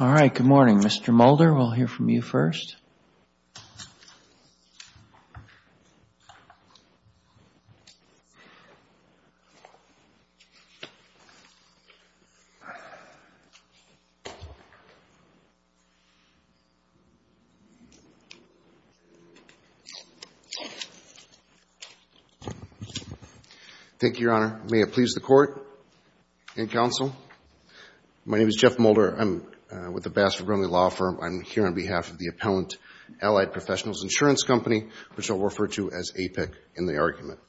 All right, good morning. Mr. Mulder, we'll hear from you first. Thank you, Your Honor. May it please the Court and Counsel. My name is Jeff Mulder. I'm with the Bassett-Vergrenley Law Firm. I'm here on behalf of the Attorney General's Office. I'm here to talk about the Appellant Allied Professionals Insurance Company, which I'll refer to as APIC in the argument.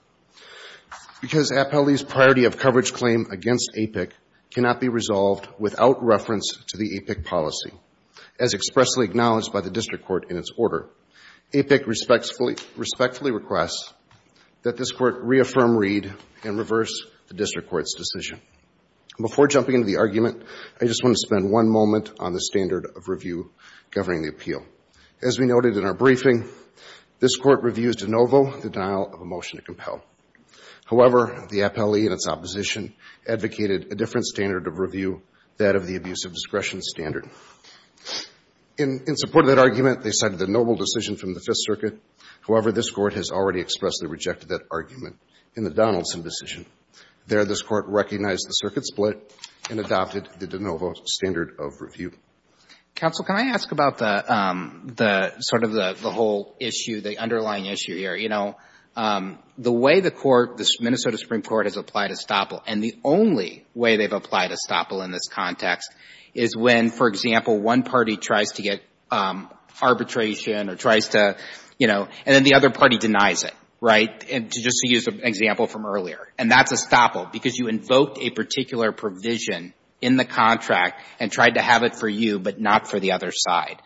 Because Appellee's priority of coverage claim against APIC cannot be resolved without reference to the APIC policy, as expressly acknowledged by the District Court in its order, APIC respectfully requests that this Court reaffirm, read, and reverse the District Court's decision. Before jumping into the argument, I just want to spend one moment on the standard of review governing the appeal. As we noted in our briefing, this Court reviews de novo the denial of a motion to compel. However, the Appellee and its opposition advocated a different standard of review, that of the abuse of discretion standard. In support of that argument, they cited the noble decision from the Fifth Circuit. However, this Court has already expressly rejected that argument in the Donaldson decision. There, this Court recognized the circuit split and adopted the de novo standard of review. Counsel, can I ask about the, sort of the whole issue, the underlying issue here? You know, the way the Court, the Minnesota Supreme Court has applied estoppel, and the only way they've applied estoppel in this context, is when, for example, one party tries to get arbitration or tries to, you know, and then the other party denies it, right? And just to use an example from earlier, and that's estoppel because you invoked a particular provision in the contract and tried to have it for you but not for the other side.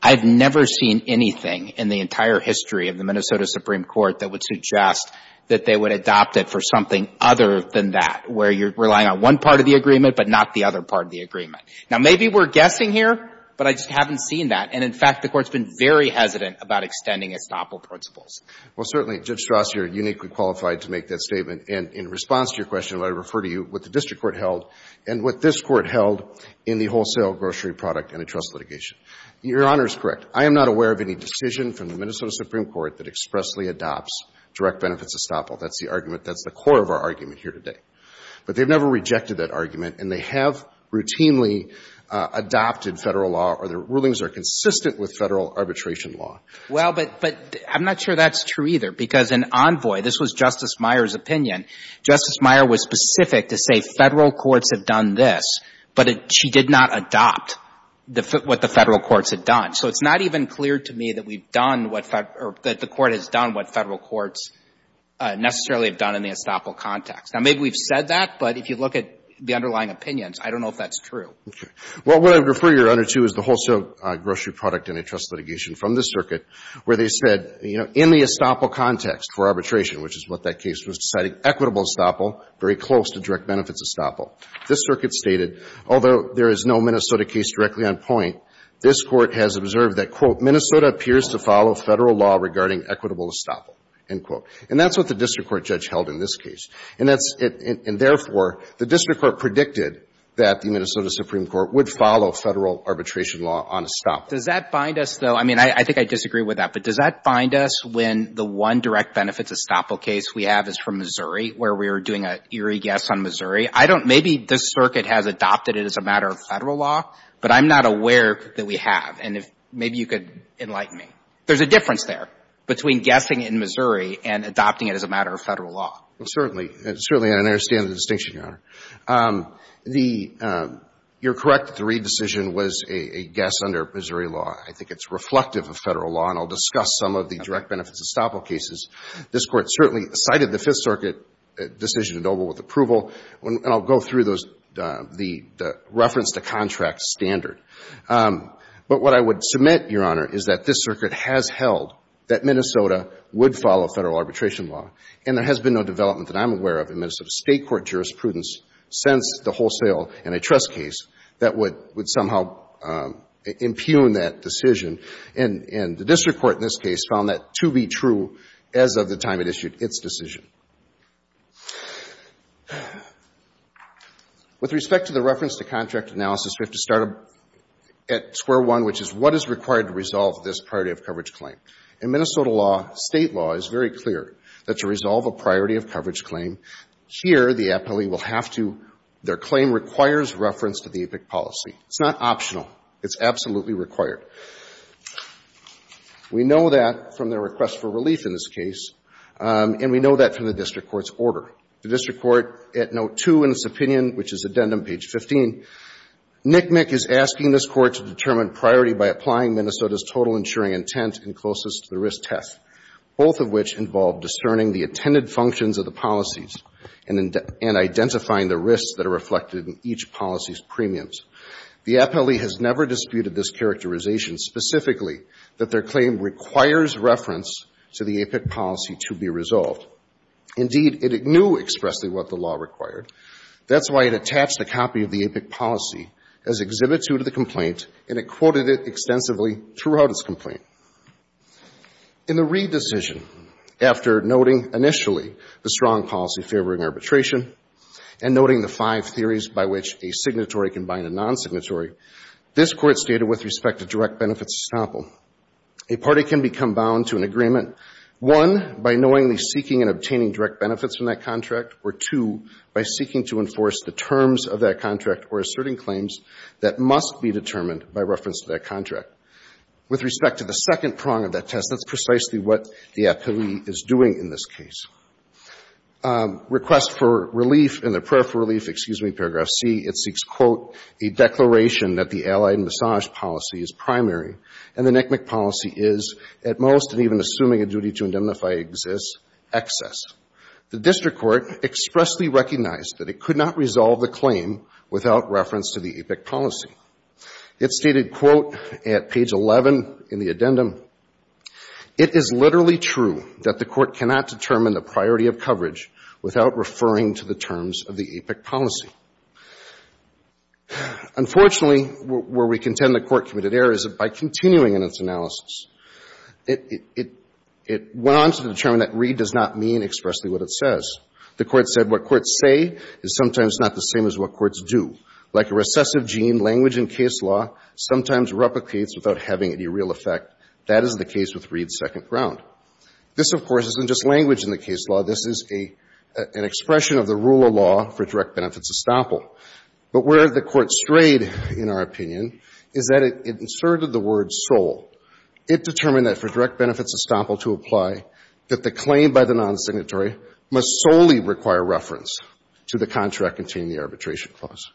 I've never seen anything in the entire history of the Minnesota Supreme Court that would suggest that they would adopt it for something other than that, where you're relying on one part of the agreement but not the other part of the agreement. Now, maybe we're guessing here, but I just haven't seen that. And, in fact, the Court's been very hesitant about extending estoppel principles. Well, certainly, Judge Strauss, you're uniquely qualified to make that statement. And in response to your question, I would refer to you what the district court held and what this court held in the wholesale grocery product and the trust litigation. Your Honor is correct. I am not aware of any decision from the Minnesota Supreme Court that expressly adopts direct benefits estoppel. That's the argument. That's the core of our argument here today. But they've never rejected that argument, and they have routinely adopted Federal law, or their rulings are consistent with Federal arbitration law. Well, but I'm not sure that's true either, because in Envoy, this was Justice Meyer's opinion, Justice Meyer was specific to say Federal courts have done this, but she did not adopt what the Federal courts had done. So it's not even clear to me that we've done what Federal or that the Court has done what Federal courts necessarily have done in the estoppel context. Now, maybe we've said that, but if you look at the underlying opinions, I don't know if that's true. Okay. Well, what I would refer your Honor to is the wholesale grocery product and the trust litigation from this circuit, where they said, you know, in the estoppel context for arbitration, which is what that case was deciding, equitable estoppel, very close to direct benefits estoppel. This circuit stated, although there is no Minnesota case directly on point, this Court has observed that, quote, Minnesota appears to follow Federal law regarding equitable estoppel, end quote. And that's what the district court judge held in this case. And that's — and therefore, the district court predicted that the Minnesota Supreme Court would follow Federal arbitration law on estoppel. Does that find us, though — I mean, I think I disagree with that. But does that find us when the one direct benefits estoppel case we have is from Missouri, where we were doing an eerie guess on Missouri? I don't — maybe this circuit has adopted it as a matter of Federal law, but I'm not aware that we have. And if — maybe you could enlighten me. There's a difference there between guessing in Missouri and adopting it as a matter of Federal law. Well, certainly. Certainly, I understand the distinction, Your Honor. The — you're correct that the Reed decision was a guess under Missouri law. I think it's reflective of Federal law. And I'll discuss some of the direct benefits estoppel cases. This Court certainly cited the Fifth Circuit decision in Noble with approval. And I'll go through those — the reference to contract standard. But what I would submit, Your Honor, is that this circuit has held that Minnesota would follow Federal arbitration law. And there has been no development that I'm aware of in Minnesota state court jurisprudence since the wholesale and a trust case that would somehow impugn that decision. And the district court in this case found that to be true as of the time it issued its decision. With respect to the reference to contract analysis, we have to start at square one, which is what is required to resolve this priority of coverage claim. In Minnesota law, state law is very clear that to resolve a priority of coverage claim, here the appellee will have to — their claim requires reference to the APIC policy. It's not optional. It's absolutely required. We know that from their request for relief in this case. And we know that from the district court's order. The district court, at note two in its opinion, which is addendum page 15, NCMEC is asking this court to determine priority by applying Minnesota's total insuring intent and closest to the risk test, both of which involve discerning the attended functions of the policies and identifying the risks that are reflected in each policy's premiums. The appellee has never disputed this characterization specifically, that their claim requires reference to the APIC policy to be resolved. Indeed, it knew expressly what the law required. That's why it attached a copy of the APIC policy as exhibit two to the complaint, and it quoted it extensively throughout its complaint. In the Reid decision, after noting initially the strong policy favoring arbitration and noting the five theories by which a signatory can bind a non-signatory, this Court stated with respect to direct benefits estoppel, a party can become bound to an agreement, one, by knowingly seeking and obtaining direct benefits from that contract, or two, by seeking to enforce the terms of that contract or asserting claims that must be determined by reference to that contract. With respect to the second prong of that test, that's precisely what the appellee is doing in this case. Request for relief in the prayer for relief, excuse me, paragraph C, it seeks, quote, a declaration that the allied massage policy is primary and the NCMEC policy is, at most and even assuming a duty to indemnify exists, excess. The district court expressly recognized that it could not resolve the claim without reference to the APIC policy. It stated, quote, at page 11 in the addendum, it is literally true that the court cannot determine the priority of coverage without referring to the terms of the APIC policy. Unfortunately, where we contend the court committed error is by continuing in its analysis. It went on to determine that Reed does not mean expressly what it says. The court said what courts say is sometimes not the same as what courts do. Like a recessive gene, language in case law sometimes replicates without having any real effect. That is the case with Reed's second prong. This, of course, isn't just language in the case law. This is an expression of the rule of law for direct benefits estoppel. But where the court strayed, in our opinion, is that it inserted the word soul. It determined that for direct benefits estoppel to apply, that the claim by the non-signatory must solely require reference to the contract containing the arbitration clause.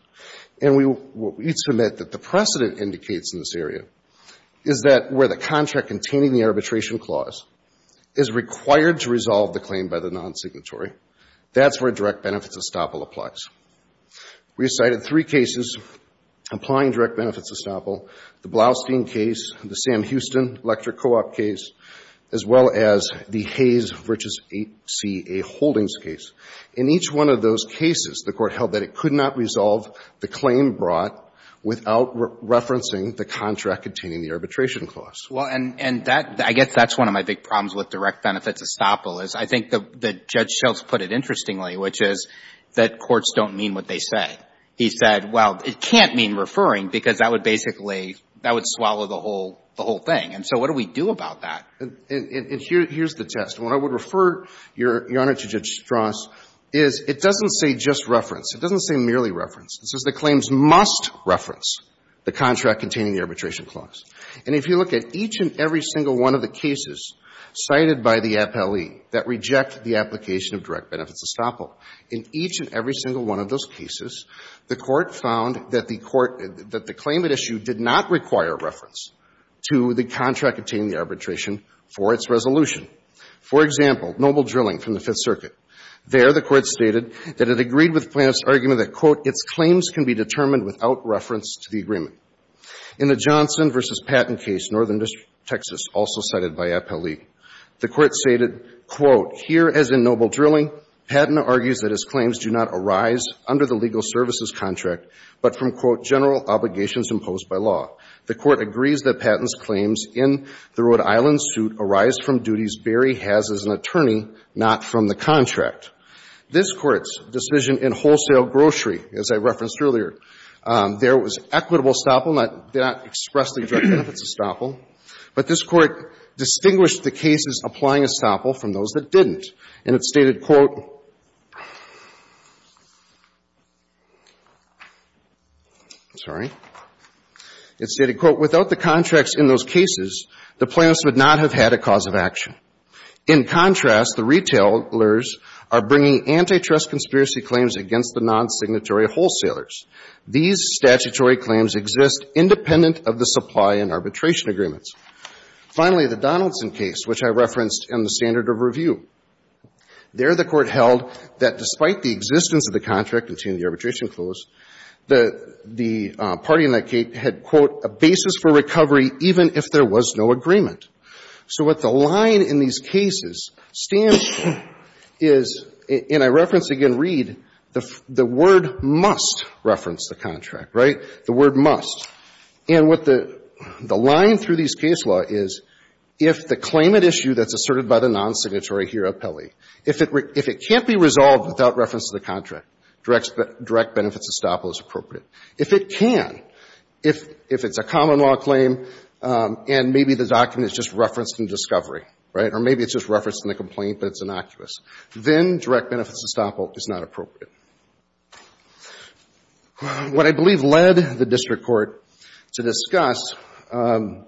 And we submit that the precedent indicates in this area is that where the contract containing the arbitration clause is required to resolve the claim by the non-signatory, that's where direct benefits estoppel applies. We cited three cases applying direct benefits estoppel. The Blaustein case, the Sam Houston electric co-op case, as well as the Hayes Riches 8CA Holdings case. In each one of those cases, the court held that it could not resolve the claim brought without referencing the contract containing the arbitration clause. Well, and that, I guess that's one of my big problems with direct benefits estoppel is I think that Judge Schultz put it interestingly, which is that courts don't mean what they say. He said, well, it can't mean referring because that would basically, that would swallow the whole thing. And so what do we do about that? And here's the test. What I would refer Your Honor to Judge Strauss is it doesn't say just reference. It doesn't say merely reference. It says the claims must reference the contract containing the arbitration clause. And if you look at each and every single one of the cases cited by the appellee that reject the application of direct benefits estoppel, in each and every single one of those cases, the court found that the court, that the claim at issue did not require reference to the contract containing the arbitration for its resolution. For example, Noble Drilling from the Fifth Circuit. There, the court stated that it agreed with Plano's argument that, quote, its claims can be determined without reference to the agreement. In the Johnson v. Patton case, Northern District, Texas, also cited by appellee, the court stated, quote, here as in Noble Drilling, Patton argues that his claims do not arise under the legal services contract, but from, quote, general obligations imposed by law. The court agrees that Patton's claims in the Rhode Island suit arise from duties Berry has as an attorney, not from the contract. This Court's decision in Wholesale Grocery, as I referenced earlier, there was equitable estoppel, not expressly direct benefits estoppel. But this Court distinguished the cases applying estoppel from those that didn't. And it stated, quote, sorry. It stated, quote, without the contracts in those cases, the Plano's would not have had a cause of action. In contrast, the retailers are bringing antitrust conspiracy claims against the nonsignatory wholesalers. These statutory claims exist independent of the supply and arbitration agreements. Finally, the Donaldson case, which I referenced in the standard of review. There the court held that despite the existence of the contract, and seeing the arbitration close, the party in that case had, quote, a basis for recovery even if there was no agreement. So what the line in these cases stands for is, and I reference again Reed, the word must reference the contract, right? The word must. And what the line through these case law is, if the claimant issue that's asserted by the nonsignatory here appellee, if it can't be resolved without reference to the contract, direct benefits estoppel is appropriate. If it can, if it's a common law claim and maybe the document is just referenced in discovery, right, or maybe it's just referenced in the complaint, but it's innocuous, then direct benefits estoppel is not appropriate. What I believe led the district court to discuss adding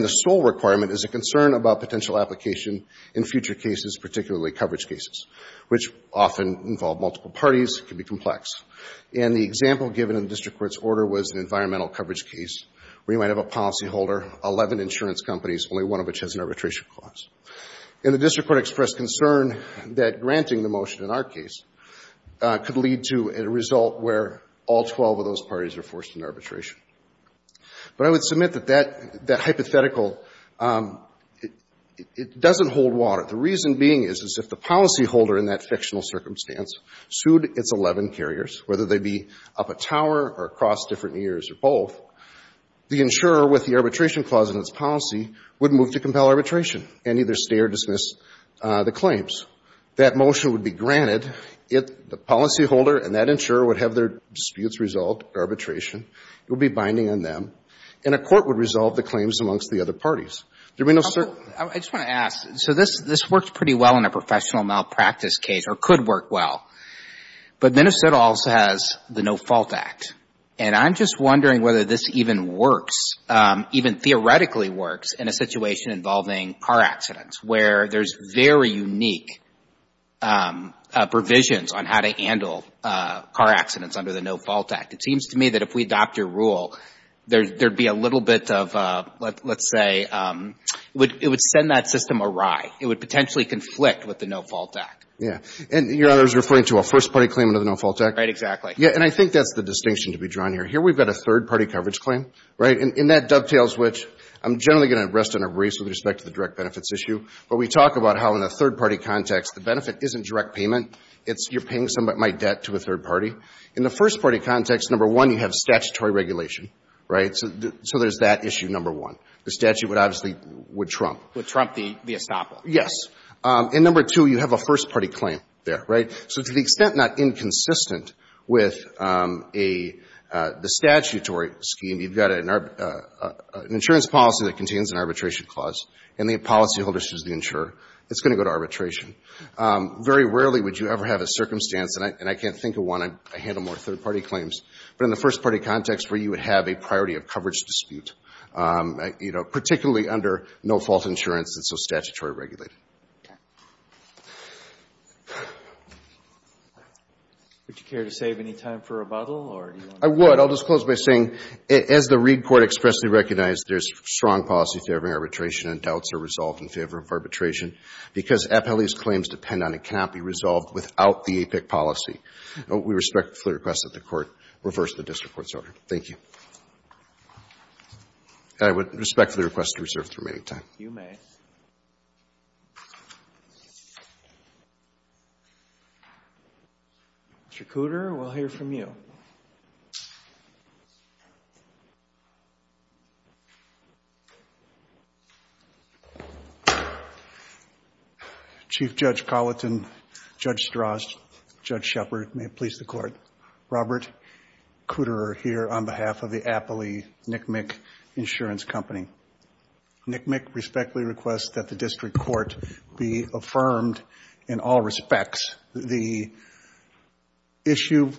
the sole requirement is a concern about potential application in future cases, particularly coverage cases, which often involve multiple parties, can be complex. And the example given in the district court's order was an environmental coverage case where you might have a policyholder, 11 insurance companies, only one of which has an arbitration clause. And the district court expressed concern that granting the motion in our case could lead to a result where all 12 of those parties are forced into arbitration. But I would submit that that hypothetical, it doesn't hold water. The reason being is if the policyholder in that fictional circumstance sued its 11 carriers, whether they be up a tower or across different years or both, the insurer with the arbitration clause in its policy would move to compel arbitration and either stay or dismiss the claims. That motion would be granted if the policyholder and that insurer would have their disputes resolved at arbitration. It would be binding on them. And a court would resolve the claims amongst the other parties. There would be no certain. I just want to ask. So this works pretty well in a professional malpractice case or could work well. But Minnesota also has the No Fault Act. And I'm just wondering whether this even works, even theoretically works, in a situation involving car accidents where there's very unique provisions on how to handle car accidents under the No Fault Act. It seems to me that if we adopt your rule, there would be a little bit of, let's say, it would send that system awry. It would potentially conflict with the No Fault Act. Yeah. And your honor is referring to a first-party claim under the No Fault Act? Exactly. Yeah. And I think that's the distinction to be drawn here. Here we've got a third-party coverage claim, right? And that dovetails which I'm generally going to rest and erase with respect to the direct benefits issue. But we talk about how in a third-party context, the benefit isn't direct payment. It's you're paying some of my debt to a third party. In the first-party context, number one, you have statutory regulation, right? So there's that issue, number one. The statute would obviously, would trump. Would trump the estoppel. Yes. And number two, you have a first-party claim there, right? So to the extent not inconsistent with a statutory scheme, you've got an insurance policy that contains an arbitration clause. And the policyholders choose the insurer. It's going to go to arbitration. Very rarely would you ever have a circumstance, and I can't think of one. I handle more third-party claims. But in the first-party context where you would have a priority of coverage dispute, you know, Would you care to save any time for rebuttal? I would. I'll just close by saying, as the Reid court expressly recognized, there's strong policy in favor of arbitration and doubts are resolved in favor of arbitration. Because appellee's claims depend on and cannot be resolved without the APIC policy. We respectfully request that the court reverse the district court's order. Thank you. And I would respectfully request to reserve the remaining time. You may. Mr. Cooter, we'll hear from you. Chief Judge Colleton, Judge Strauss, Judge Shepard, may it please the court. Robert Cooter here on behalf of the Appellee NCMIC Insurance Company. NCMIC respectfully requests that the district court be affirmed in all respects. The issue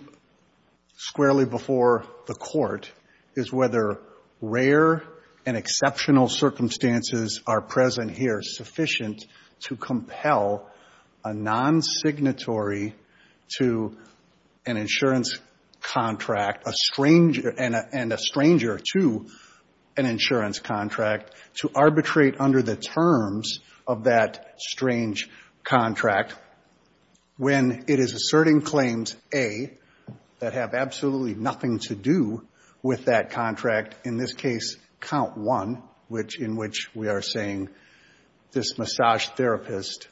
squarely before the court is whether rare and exceptional circumstances are present here sufficient to compel a non-signatory to an insurance contract and a stranger to an insurance contract to arbitrate under the terms of that strange contract. When it is asserting claims, A, that have absolutely nothing to do with that contract. In this case, count one, in which we are saying this massage therapist,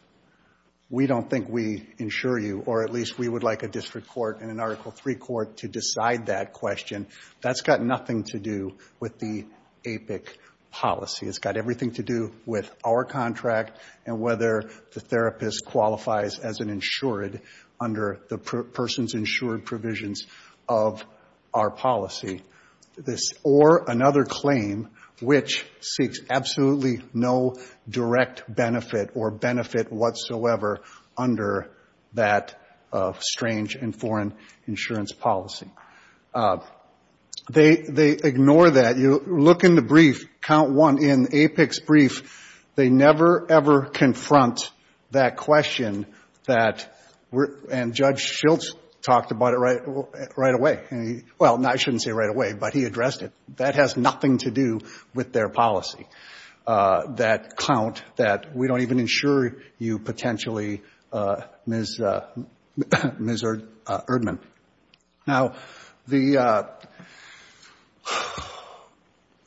we don't think we insure you. Or at least we would like a district court and an Article III court to decide that question. That's got nothing to do with the APIC policy. It's got everything to do with our contract and whether the therapist qualifies as an insured under the person's insured provisions of our policy. Or another claim which seeks absolutely no direct benefit or benefit whatsoever under that strange and foreign insurance policy. They ignore that. You look in the brief, count one, in APIC's brief, they never, ever confront that question. And Judge Schiltz talked about it right away. Well, I shouldn't say right away, but he addressed it. That has nothing to do with their policy, that count that we don't even insure you potentially, Ms. Erdman. Now, the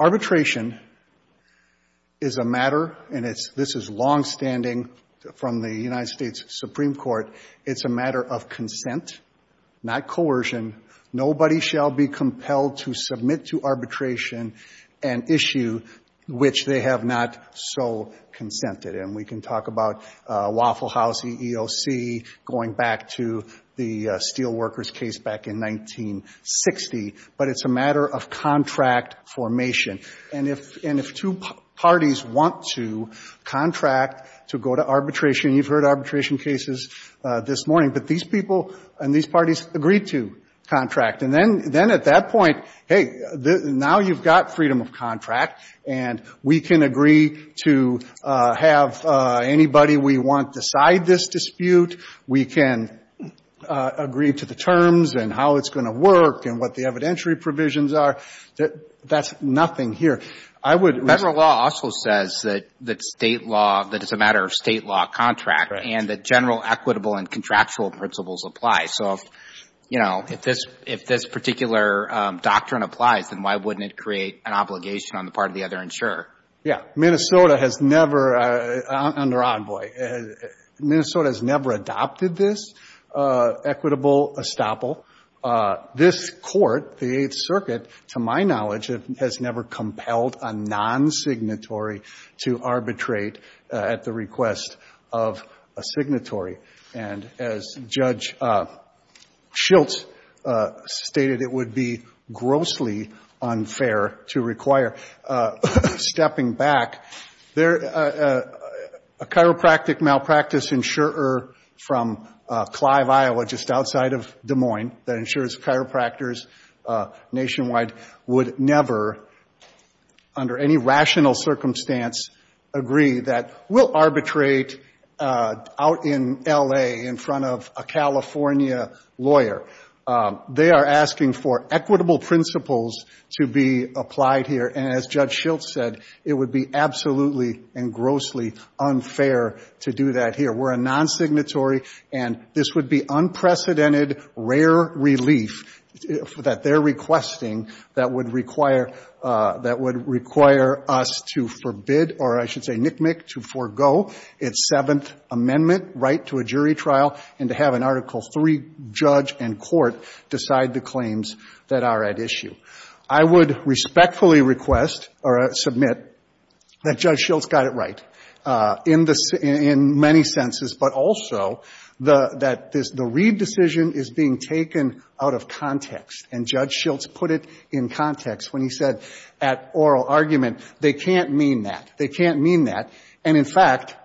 arbitration is a matter, and this is longstanding from the United States Supreme Court, it's a matter of consent, not coercion. Nobody shall be compelled to submit to arbitration an issue which they have not so consented. And we can talk about Waffle House EEOC going back to the Steelworkers case back in 1960. But it's a matter of contract formation. And if two parties want to contract to go to arbitration, you've heard arbitration cases this morning. But these people and these parties agree to contract. And then at that point, hey, now you've got freedom of contract, and we can agree to have anybody we want decide this dispute. We can agree to the terms and how it's going to work and what the evidentiary provisions are. That's nothing here. I would raise it. That it's a matter of state law contract and that general equitable and contractual principles apply. So, you know, if this particular doctrine applies, then why wouldn't it create an obligation on the part of the other insurer? Yeah. Minnesota has never, under Envoy, Minnesota has never adopted this equitable estoppel. This Court, the Eighth Circuit, to my knowledge, has never compelled a non-signatory to arbitrate at the request of a signatory. And as Judge Schiltz stated, it would be grossly unfair to require stepping back. A chiropractic malpractice insurer from Clive, Iowa, just outside of Des Moines, that insures chiropractors nationwide would never, under any rational circumstance, agree that we'll arbitrate out in L.A. in front of a California lawyer. They are asking for equitable principles to be applied here. And as Judge Schiltz said, it would be absolutely and grossly unfair to do that here. We're a non-signatory. And this would be unprecedented, rare relief that they're requesting that would require us to forbid, or I should say nick-nick, to forego its Seventh Amendment right to a jury trial and to have an Article III judge and court decide the claims that are at issue. I would respectfully request or submit that Judge Schiltz got it right in many senses, but also that the Reid decision is being taken out of context. And Judge Schiltz put it in context when he said at oral argument, they can't mean that. They can't mean that. And, in fact,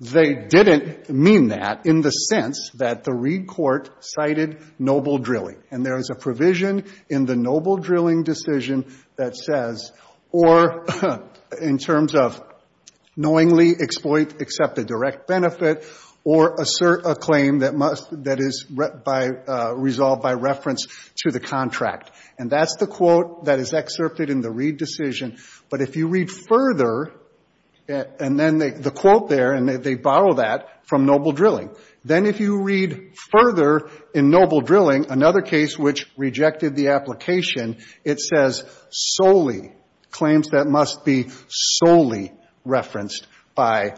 they didn't mean that in the sense that the Reid court cited noble drilling. And there is a provision in the noble drilling decision that says, or in terms of knowingly exploit, accept a direct benefit, or assert a claim that is resolved by reference to the contract. And that's the quote that is excerpted in the Reid decision. But if you read further, and then the quote there, and they borrow that from noble drilling, then if you read further in noble drilling, another case which rejected the application, it says solely, claims that must be solely referenced by,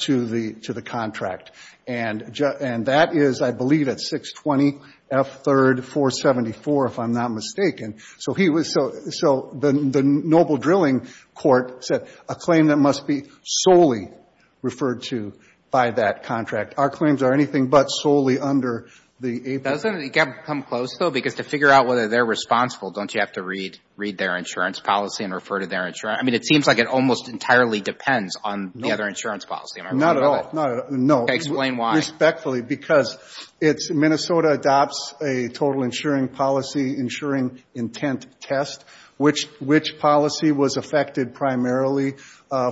to the contract. And that is, I believe, at 620 F. 3rd 474, if I'm not mistaken. So he was, so the noble drilling court said a claim that must be solely referred to by that contract. Our claims are anything but solely under the AP. Doesn't it come close, though? Because to figure out whether they're responsible, don't you have to read their insurance policy and refer to their insurance? I mean, it seems like it almost entirely depends on the other insurance policy. Not at all. No. Explain why. Respectfully, because Minnesota adopts a total insuring policy, insuring intent test, which policy was affected primarily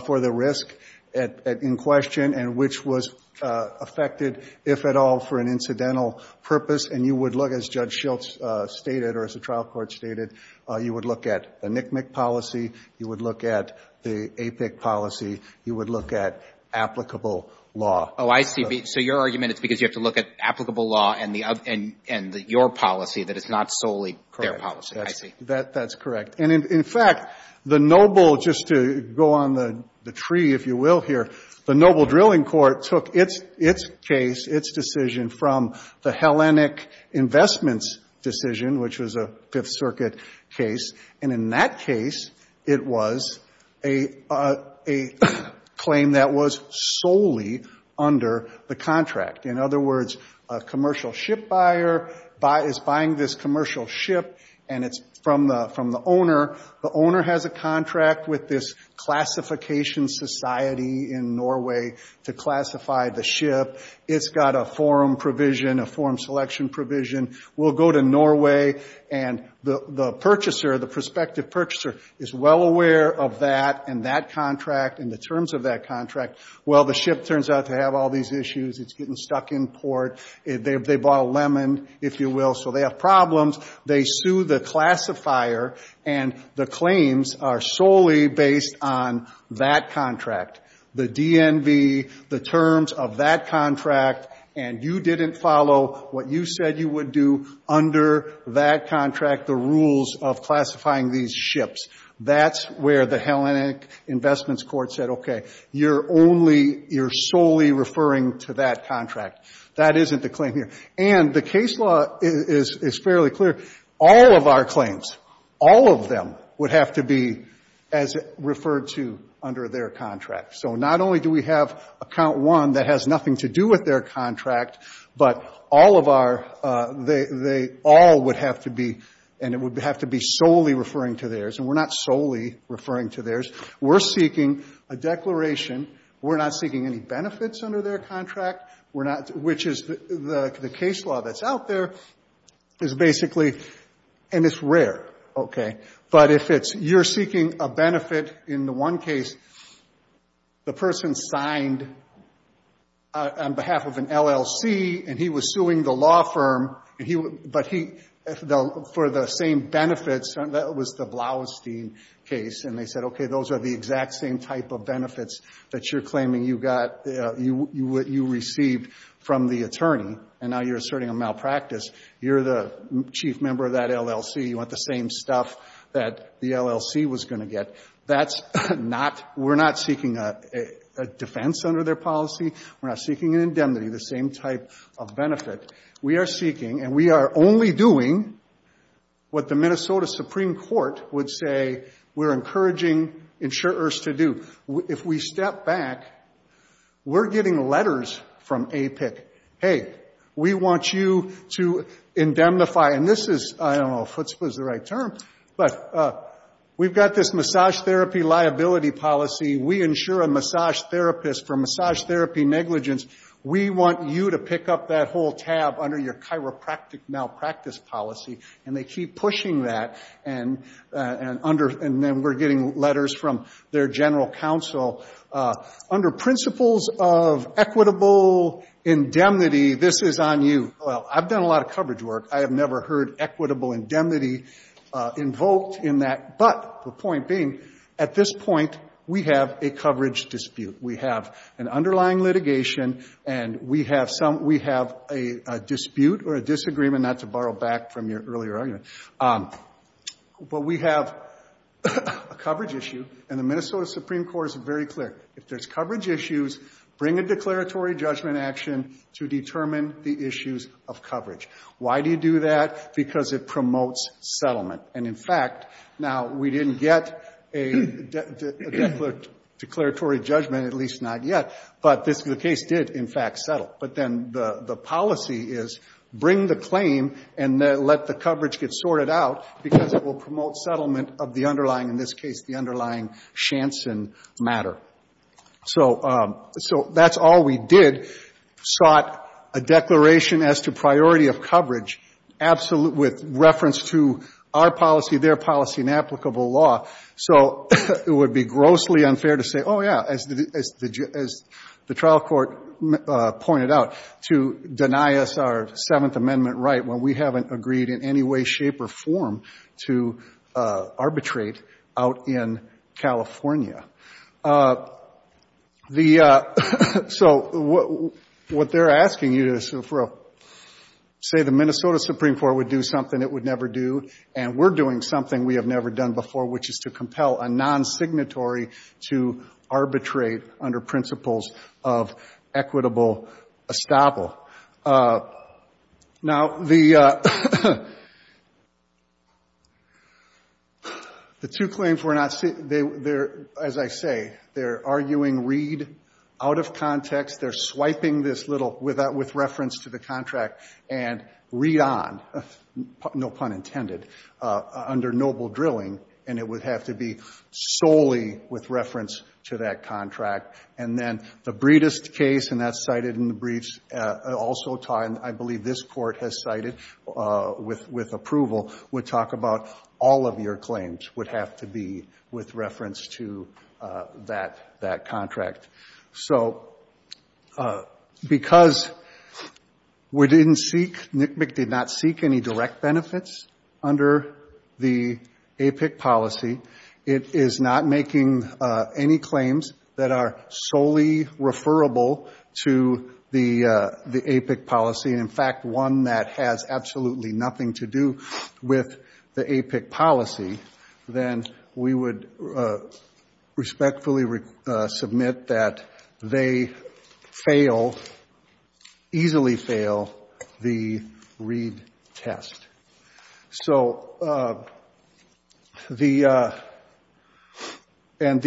for the risk in question, and which was affected, if at all, for an incidental purpose. And you would look, as Judge Schiltz stated, or as the trial court stated, you would look at a NCMEC policy, you would look at the APIC policy, you would look at applicable law. Oh, I see. So your argument is because you have to look at applicable law and your policy, that it's not solely their policy. I see. That's correct. And, in fact, the noble, just to go on the tree, if you will, here, the noble drilling court took its case, its decision from the Hellenic Investments decision, which was a Fifth Circuit case. And in that case, it was a claim that was solely under the contract. In other words, a commercial ship buyer is buying this commercial ship, and it's from the owner. The owner has a contract with this classification society in Norway to classify the ship. It's got a forum provision, a forum selection provision. We'll go to Norway, and the purchaser, the prospective purchaser, is well aware of that and that contract and the terms of that contract. Well, the ship turns out to have all these issues. It's getting stuck in port. They bought a lemon, if you will, so they have problems. They sue the classifier, and the claims are solely based on that contract, the DNB, the terms of that contract, and you didn't follow what you said you would do under that contract, the rules of classifying these ships. That's where the Hellenic Investments Court said, okay, you're only, you're solely referring to that contract. That isn't the claim here. And the case law is fairly clear. All of our claims, all of them would have to be as referred to under their contract. So not only do we have Account 1 that has nothing to do with their contract, but all of our, they all would have to be, and it would have to be solely referring to theirs, and we're not solely referring to theirs. We're seeking a declaration. We're not seeking any benefits under their contract. We're not, which is the case law that's out there is basically, and it's rare, okay? But if it's, you're seeking a benefit in the one case, the person signed on behalf of an LLC, and he was suing the law firm, but he, for the same benefits, that was the Blaustein case, and they said, okay, those are the exact same type of benefits that you're claiming you got, you received from the attorney, and now you're asserting a malpractice. You're the chief member of that LLC. You want the same stuff that the LLC was going to get. That's not, we're not seeking a defense under their policy. We're not seeking an indemnity, the same type of benefit. We are seeking, and we are only doing what the Minnesota Supreme Court would say we're encouraging insurers to do. If we step back, we're getting letters from APIC, hey, we want you to indemnify, and this is, I don't know if what's the right term, but we've got this massage therapy liability policy. We insure a massage therapist for massage therapy negligence. We want you to pick up that whole tab under your chiropractic malpractice policy, and they keep pushing that, and under, and then we're getting letters from their general counsel. Under principles of equitable indemnity, this is on you. Well, I've done a lot of coverage work. I have never heard equitable indemnity invoked in that, but the point being, at this point, we have a coverage dispute. We have an underlying litigation, and we have some, we have a dispute or a disagreement, not to borrow back from your earlier argument, but we have a coverage issue, and the Minnesota Supreme Court is very clear. If there's coverage issues, bring a declaratory judgment action to determine the issues of coverage. Why do you do that? Because it promotes settlement, and in fact, now, we didn't get a declaratory judgment, at least not yet, but the case did, in fact, settle, but then the policy is bring the claim and let the coverage get sorted out because it will promote settlement of the underlying, in this case, the underlying Shanson matter. So that's all we did, sought a declaration as to priority of coverage, absolute, with reference to our policy, their policy, and applicable law. So it would be grossly unfair to say, oh, yeah, as the trial court pointed out, to deny us our Seventh Amendment right when we haven't agreed in any way, shape, or form to arbitrate out in California. So what they're asking you to say, the Minnesota Supreme Court would do something it would never do, and we're doing something we have never done before, which is to compel a non-signatory to arbitrate under principles of equitable estoppel. Now, the two claims we're not seeing, as I say, they're arguing Reed out of context. They're swiping this little, with reference to the contract, and Reed on, no pun intended, under noble drilling, and it would have to be solely with reference to that contract. And then the Breedist case, and that's cited in the briefs, also time, I believe this court has cited with approval, would talk about all of your claims would have to be with reference to that contract. So because we didn't seek, NCMEC did not seek any direct benefits under the APIC policy, it is not making any claims that are solely referable to the APIC policy, and, in fact, one that has absolutely nothing to do with the APIC policy, then we would respectfully submit that they fail, easily fail, the Reed test. So the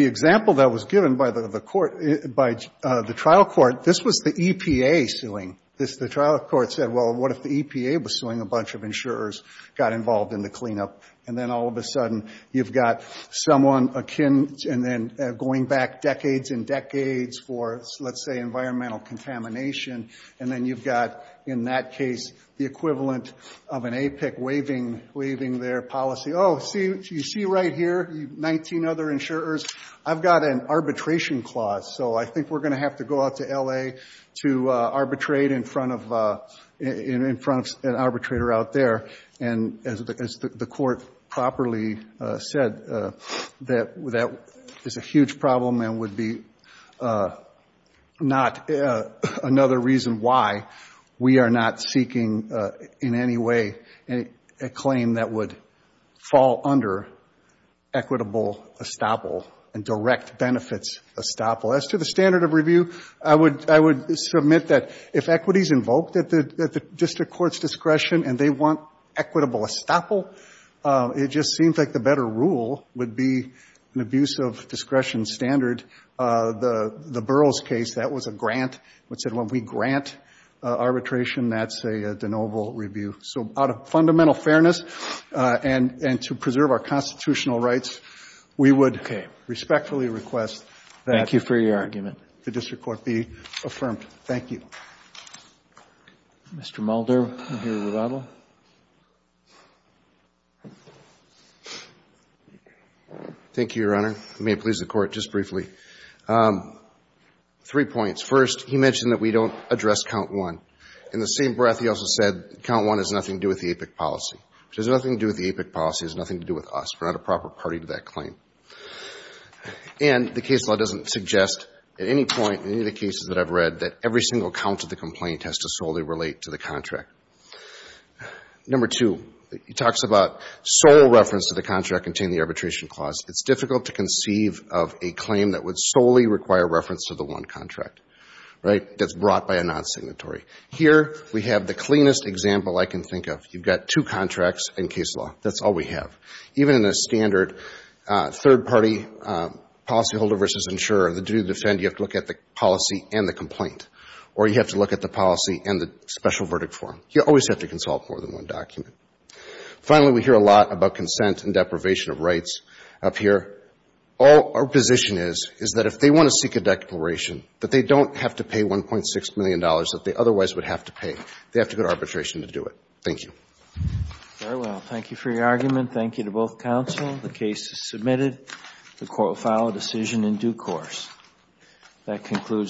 example that was given by the trial court, this was the EPA suing. The trial court said, well, what if the EPA was suing a bunch of insurers, got involved in the cleanup, and then all of a sudden you've got someone going back decades and decades for, let's say, environmental contamination, and then you've got, in that case, the equivalent of an APIC waiving their policy. Oh, you see right here, 19 other insurers? I've got an arbitration clause, so I think we're going to have to go out to L.A. to arbitrate in front of an arbitrator out there. And as the court properly said, that is a huge problem and would be not another reason why we are not seeking in any way a claim that would fall under equitable estoppel and direct benefits estoppel. As to the standard of review, I would submit that if equities invoked at the district court's discretion and they want equitable estoppel, it just seems like the better rule would be an abuse of discretion standard. The Burroughs case, that was a grant. It said when we grant arbitration, that's a de novo review. So out of fundamental fairness and to preserve our constitutional rights, we would respectfully request that the district court be affirmed. Thank you. Mr. Mulder. Thank you, Your Honor. May it please the Court, just briefly. Three points. First, he mentioned that we don't address count one. In the same breath, he also said count one has nothing to do with the APIC policy, which has nothing to do with the APIC policy. It has nothing to do with us. We're not a proper party to that claim. And the case law doesn't suggest at any point in any of the cases that I've read that every single count of the complaint has to solely relate to the contract. Number two, he talks about sole reference to the contract containing the arbitration clause. It's difficult to conceive of a claim that would solely require reference to the one contract, right, that's brought by a non-signatory. Here we have the cleanest example I can think of. You've got two contracts and case law. That's all we have. Even in a standard third-party policyholder versus insurer, the duty to defend, you have to look at the policy and the complaint, or you have to look at the policy and the special verdict form. You always have to consult more than one document. Finally, we hear a lot about consent and deprivation of rights up here. All our position is, is that if they want to seek a declaration, that they don't have to pay $1.6 million that they otherwise would have to pay. They have to go to arbitration to do it. Thank you. Very well. Thank you for your argument. Thank you to both counsel. The case is submitted. The court will file a decision in due course. That concludes the